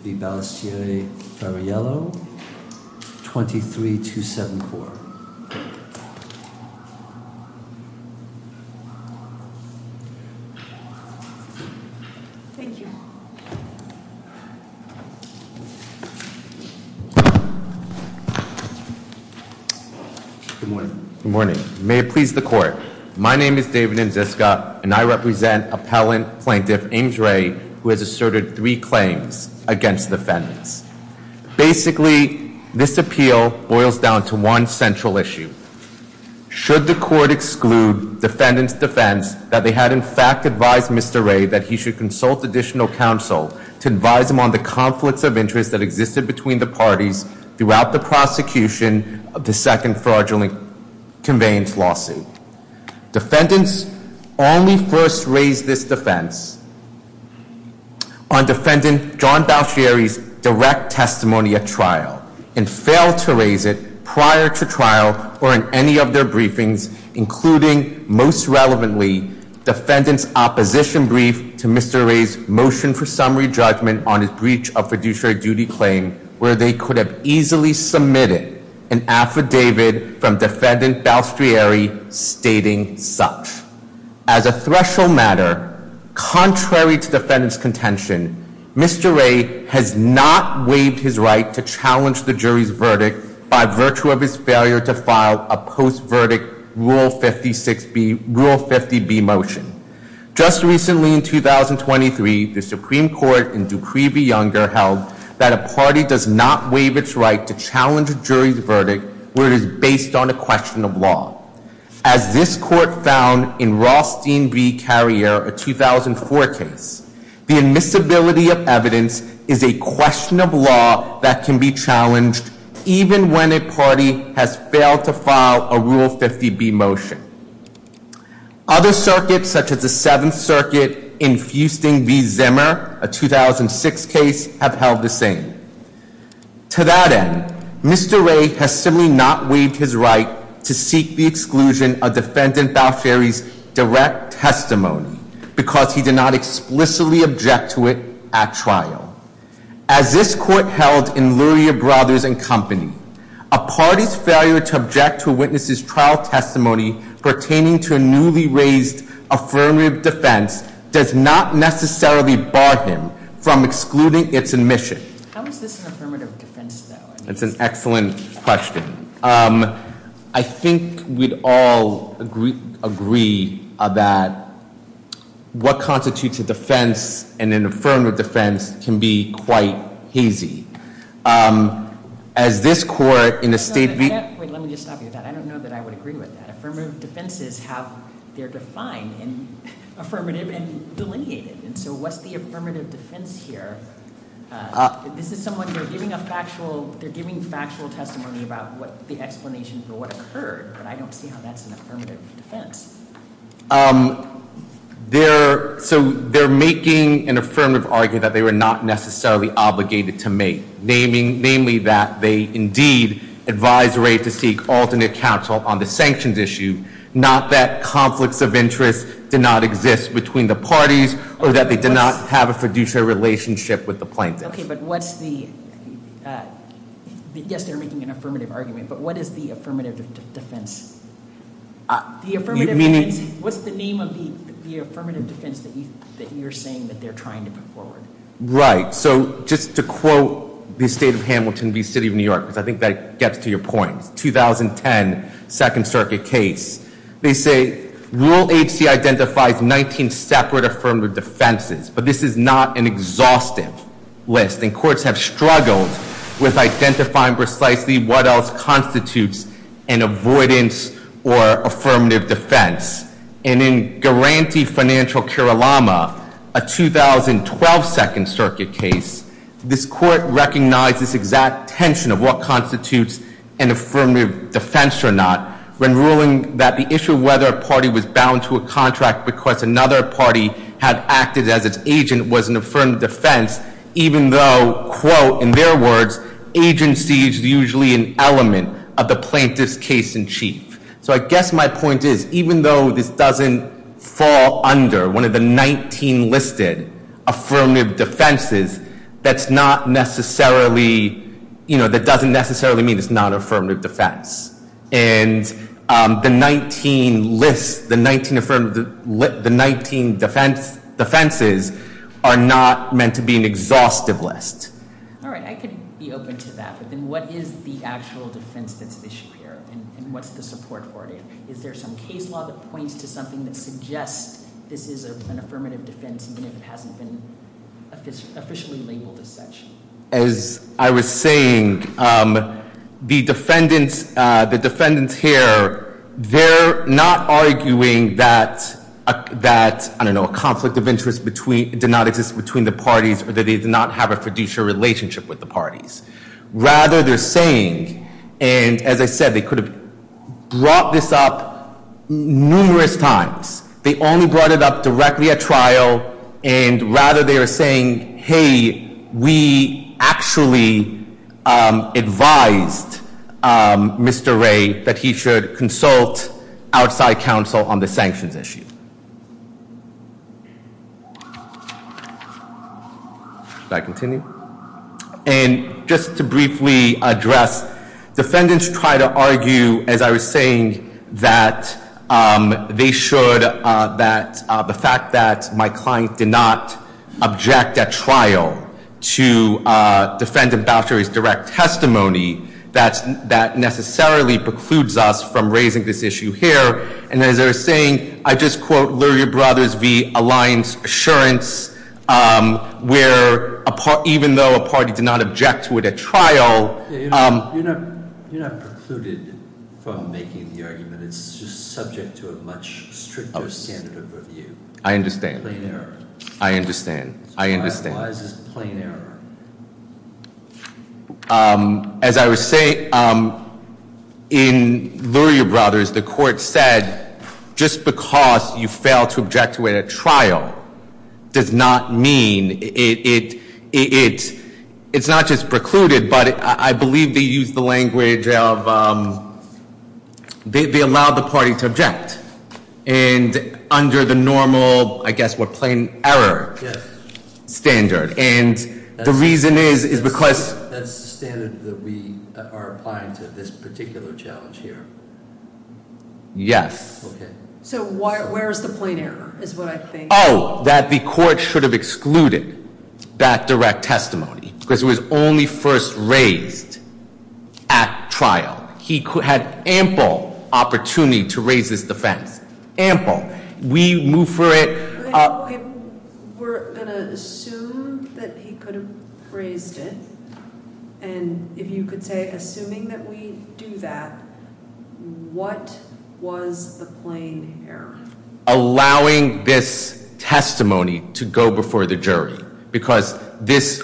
23-7-4 Good morning. May it please the court. My name is David Ndziska and I represent appellant plaintiff Ames Ray who has asserted three claims against defendants. Basically this appeal boils down to one central issue. Should the court exclude defendants defense that they had in fact advised Mr. Ray that he should consult additional counsel to advise him on the conflicts of interest that existed between the parties throughout the prosecution of the second fraudulent conveyance lawsuit. Defendants only first raised this defense on defendant John Balestriere's direct testimony at trial and failed to raise it prior to trial or in any of their briefings including most relevantly defendant's opposition brief to Mr. Ray's motion for summary judgment on his breach of fiduciary duty claim where they could have easily submitted an affidavit from defendant Balestriere stating such. As a threshold matter, contrary to defendant's contention, Mr. Ray has not waived his right to challenge the jury's verdict by virtue of his failure to file a post verdict Rule 56B, Rule 50B motion. Just recently in 2023, the Supreme Court in Dupree v. Younger held that a party does not waive its right to challenge a jury's verdict where it is based on a question of law. As this court found in Rothstein v. Carrier, a 2004 case, the admissibility of evidence is a question of law that can be challenged even when a party has failed to file a Rule 50B motion. Other circuits such as the Seventh Circuit in Fusting v. Zimmer, a 2006 case, have held the same. To that end, Mr. Ray has simply not waived his right to seek the exclusion of defendant Balestriere's direct testimony because he did not explicitly object to it at trial. As this court held in Luria Brothers and Company, a party's failure to object to a witness's trial testimony pertaining to a newly raised affirmative defense does not necessarily bar him from excluding its admission. How is this an affirmative defense though? That's an excellent question. I think we'd all agree about what constitutes a defense and an affirmative defense can be quite hazy. As this court in a state v. Wait, let me just stop you with that. I don't know that I would agree with that. Affirmative defense is delineated. What's the affirmative defense here? They're giving factual testimony about the explanation for what occurred, but I don't see how that's an affirmative defense. They're making an affirmative argument that they were not necessarily obligated to make, namely that they indeed advised Ray to seek alternate counsel on the sanctions issue, not that conflicts of interest did not exist between the parties or that they did not have a fiduciary relationship with the plaintiffs. Okay, but what's the, yes, they're making an affirmative argument, but what is the affirmative defense? The affirmative defense, what's the name of the affirmative defense that you're saying that they're trying to put forward? Right, so just to quote the State of Hamilton v. City of New York, because I think that gets to your point, 2010 Second Circuit case, they say, Rule 8C identifies 19 separate affirmative defenses, but this is not an exhaustive list, and courts have struggled with identifying precisely what else constitutes an avoidance or affirmative defense. And in Garanti v. Financial Keralama, a 2012 Second Circuit case, this court recognized this exact tension of what constitutes an affirmative defense or not when ruling that the issue of whether a party was bound to a contract because another party had acted as its agent was an affirmative defense, even though, quote, in their words, agency is usually an element of the plaintiff's case in chief. So I guess my point is, even though this doesn't fall under one of the 19 listed affirmative defenses, that doesn't necessarily mean it's not an affirmative defense. And the 19 defenses are not meant to be an exhaustive list. All right, I could be open to that, but then what is the actual defense that's at issue here, and what's the support for it? Is there some case law that points to something that suggests this is an affirmative defense even if it hasn't been officially labeled as such? As I was saying, the defendants here, they're not arguing that, I don't know, a conflict of interest did not exist between the parties or that they did not have a fiduciary relationship with the parties. Rather, they're saying, and as I said, they could have brought this up numerous times. They only brought it up directly at trial, and rather they are saying, hey, we actually advised Mr. Ray that he should consult outside counsel on the sanctions issue. Should I continue? And just to briefly address, defendants try to argue, as I was saying, that they should, that the fact that my client did not object at trial to defendant Boucher's direct testimony, that necessarily precludes us from raising this issue here. And as I was saying, I just quote Luria Brothers v. Alliance Assurance, where even though a party did not object to it at trial- You're not precluded from making the argument. It's just subject to a much stricter standard of review. I understand. Plain error. I understand. I understand. So why is this plain error? As I was saying, in Luria Brothers, the court said just because you fail to object to it at trial does not mean it, it's not just precluded, but I believe they used the language of, they allowed the party to object. And under the normal, I guess, what, plain error standard. And the reason is, is because- That's the standard that we are applying to this particular challenge here. Yes. Okay. So where is the plain error, is what I think- Oh, that the court should have excluded that direct testimony, because it was only first raised at trial. He had ample opportunity to raise this defense. Ample. We move for it- We're going to assume that he could have raised it. And if you could say, assuming that we do that, what was the plain error? Allowing this testimony to go before the jury. Because this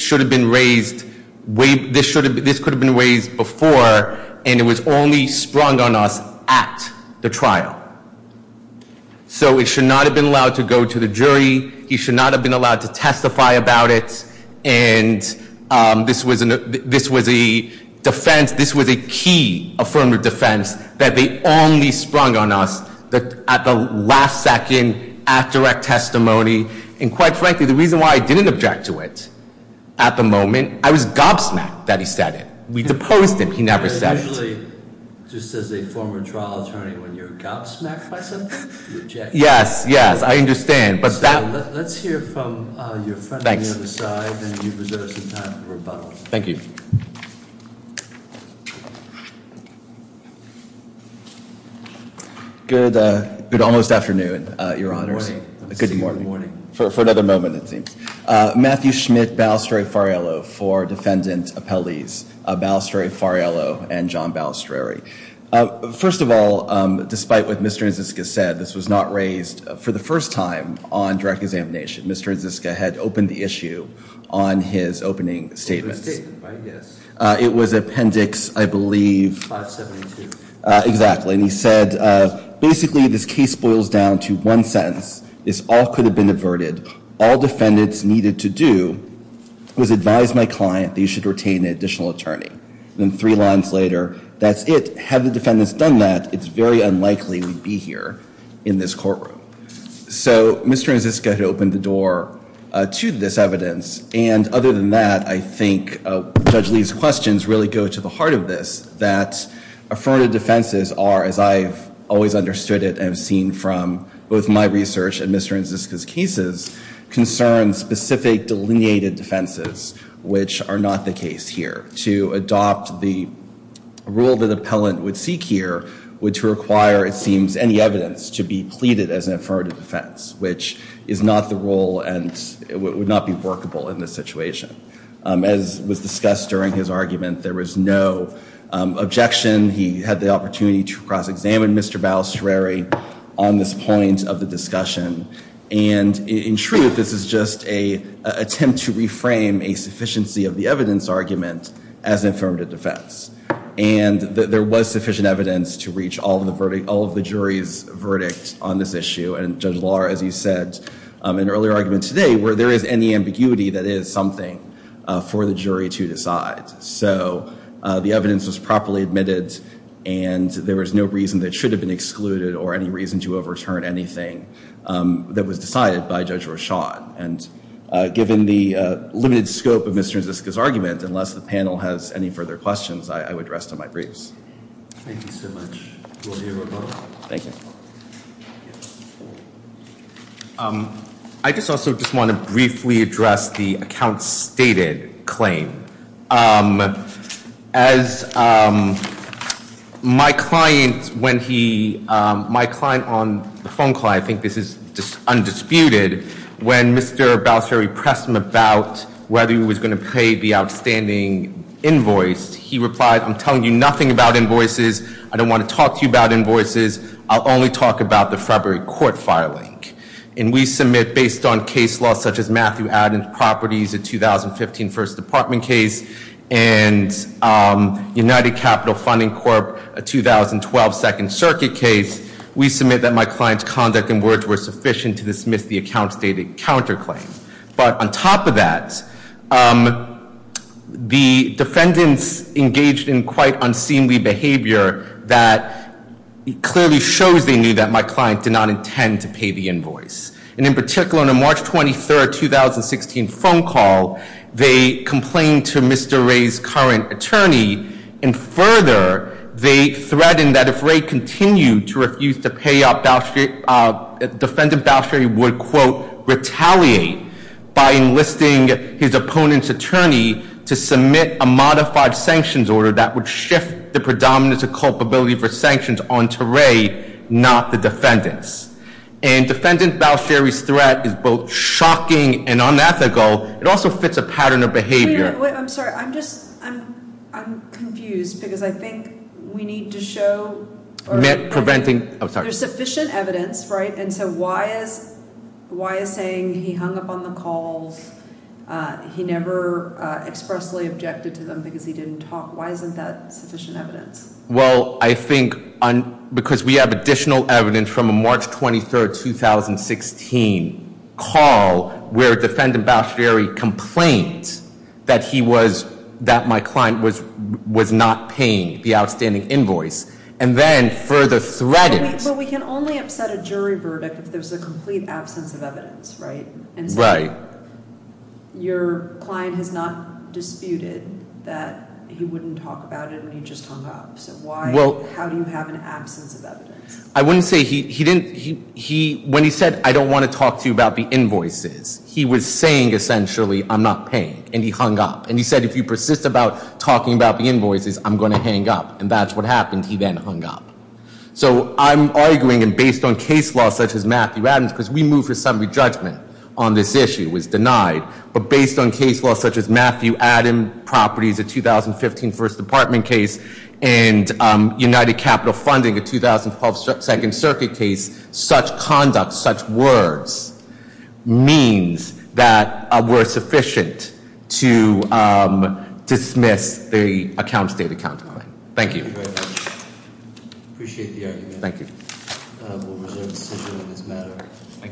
should have been raised, this could have been raised before, and it was only sprung on us at the trial. So it should not have been allowed to go to the jury. He should not have been allowed to testify about it. And this was a defense, this was a key affirmative defense that they only sprung on us at the last second, at direct testimony. And quite frankly, the reason why I didn't object to it at the moment, I was gobsmacked that he said it. Usually, just as a former trial attorney, when you're gobsmacked by someone, you object. Yes, yes, I understand, but that- Let's hear from your friend on the other side, and you've reserved some time for rebuttal. Thank you. Good almost afternoon, Your Honors. Good morning. For another moment, it seems. Matthew Schmidt Balistrieri-Fariello for Defendant Appellees Balistrieri-Fariello and John Balistrieri. First of all, despite what Mr. Nziska said, this was not raised for the first time on direct examination. Mr. Nziska had opened the issue on his opening statements. It was a statement, right? Yes. It was Appendix, I believe- 572. Exactly. And he said, basically, this case boils down to one sentence. This all could have been averted. All defendants needed to do was advise my client that he should retain an additional attorney. Then three lines later, that's it. Had the defendants done that, it's very unlikely we'd be here in this courtroom. So, Mr. Nziska had opened the door to this evidence. And other than that, I think Judge Lee's questions really go to the heart of this, that affirmative defenses are, as I've always understood it and have seen from both my research and Mr. Nziska's cases, concern specific delineated defenses, which are not the case here. To adopt the rule that appellant would seek here would require, it seems, any evidence to be pleaded as an affirmative defense, which is not the rule and would not be workable in this situation. As was discussed during his argument, there was no objection. He had the opportunity to cross-examine Mr. Balistrieri on this point of the discussion. And in truth, this is just an attempt to reframe a sufficiency of the evidence argument as an affirmative defense. And there was sufficient evidence to reach all of the jury's verdict on this issue. And Judge Lahr, as you said in an earlier argument today, where there is any ambiguity that is something for the jury to decide. So, the evidence was properly admitted and there was no reason that it should have been excluded or any reason to overturn anything that was decided by Judge Rochon. And given the limited scope of Mr. Nziska's argument, unless the panel has any further questions, I would rest on my briefs. Thank you so much. We'll hear from both. Thank you. I just also just want to briefly address the account stated claim. As my client, when he, my client on the phone call, I think this is undisputed, when Mr. Balistrieri pressed him about whether he was going to pay the outstanding invoice, he replied, I'm telling you nothing about invoices. I don't want to talk to you about invoices. I'll only talk about the February court filing. And we submit, based on case law such as Matthew Adams' properties, a 2015 First Department case and United Capital Funding Corp., a 2012 Second Circuit case, we submit that my client's conduct and words were sufficient to dismiss the account stated counterclaim. But on top of that, the defendants engaged in quite unseemly behavior that clearly shows they knew that my client did not intend to pay the invoice. And in particular, on a March 23, 2016 phone call, they complained to Mr. Ray's current attorney. And further, they threatened that if Ray continued to refuse to pay up, defendant Balistrieri would, quote, retaliate by enlisting his opponent's attorney to submit a modified sanctions order that would shift the predominance of culpability for sanctions on to Ray, not the defendants. And defendant Balistrieri's threat is both shocking and unethical. Wait, I'm sorry. I'm just, I'm confused because I think we need to show Preventing, oh, sorry. There's sufficient evidence, right? And so why is saying he hung up on the calls, he never expressly objected to them because he didn't talk, why isn't that sufficient evidence? Well, I think because we have additional evidence from a March 23, 2016 call where defendant Balistrieri complained that he was, that my client was not paying the outstanding invoice. And then further threatened. But we can only upset a jury verdict if there's a complete absence of evidence, right? Right. And so your client has not disputed that he wouldn't talk about it and he just hung up. I wouldn't say he didn't, he, when he said I don't want to talk to you about the invoices, he was saying essentially I'm not paying and he hung up. And he said if you persist about talking about the invoices, I'm going to hang up. And that's what happened. He then hung up. So I'm arguing and based on case law such as Matthew Adams, because we moved for summary judgment on this issue, it was denied, but based on case law such as Matthew Adams properties, the 2015 First Department case and United Capital Funding, the 2012 Second Circuit case, such conduct, such words means that we're sufficient to dismiss the account state account claim. Thank you. Appreciate the argument. Thank you. We'll reserve the decision on this matter.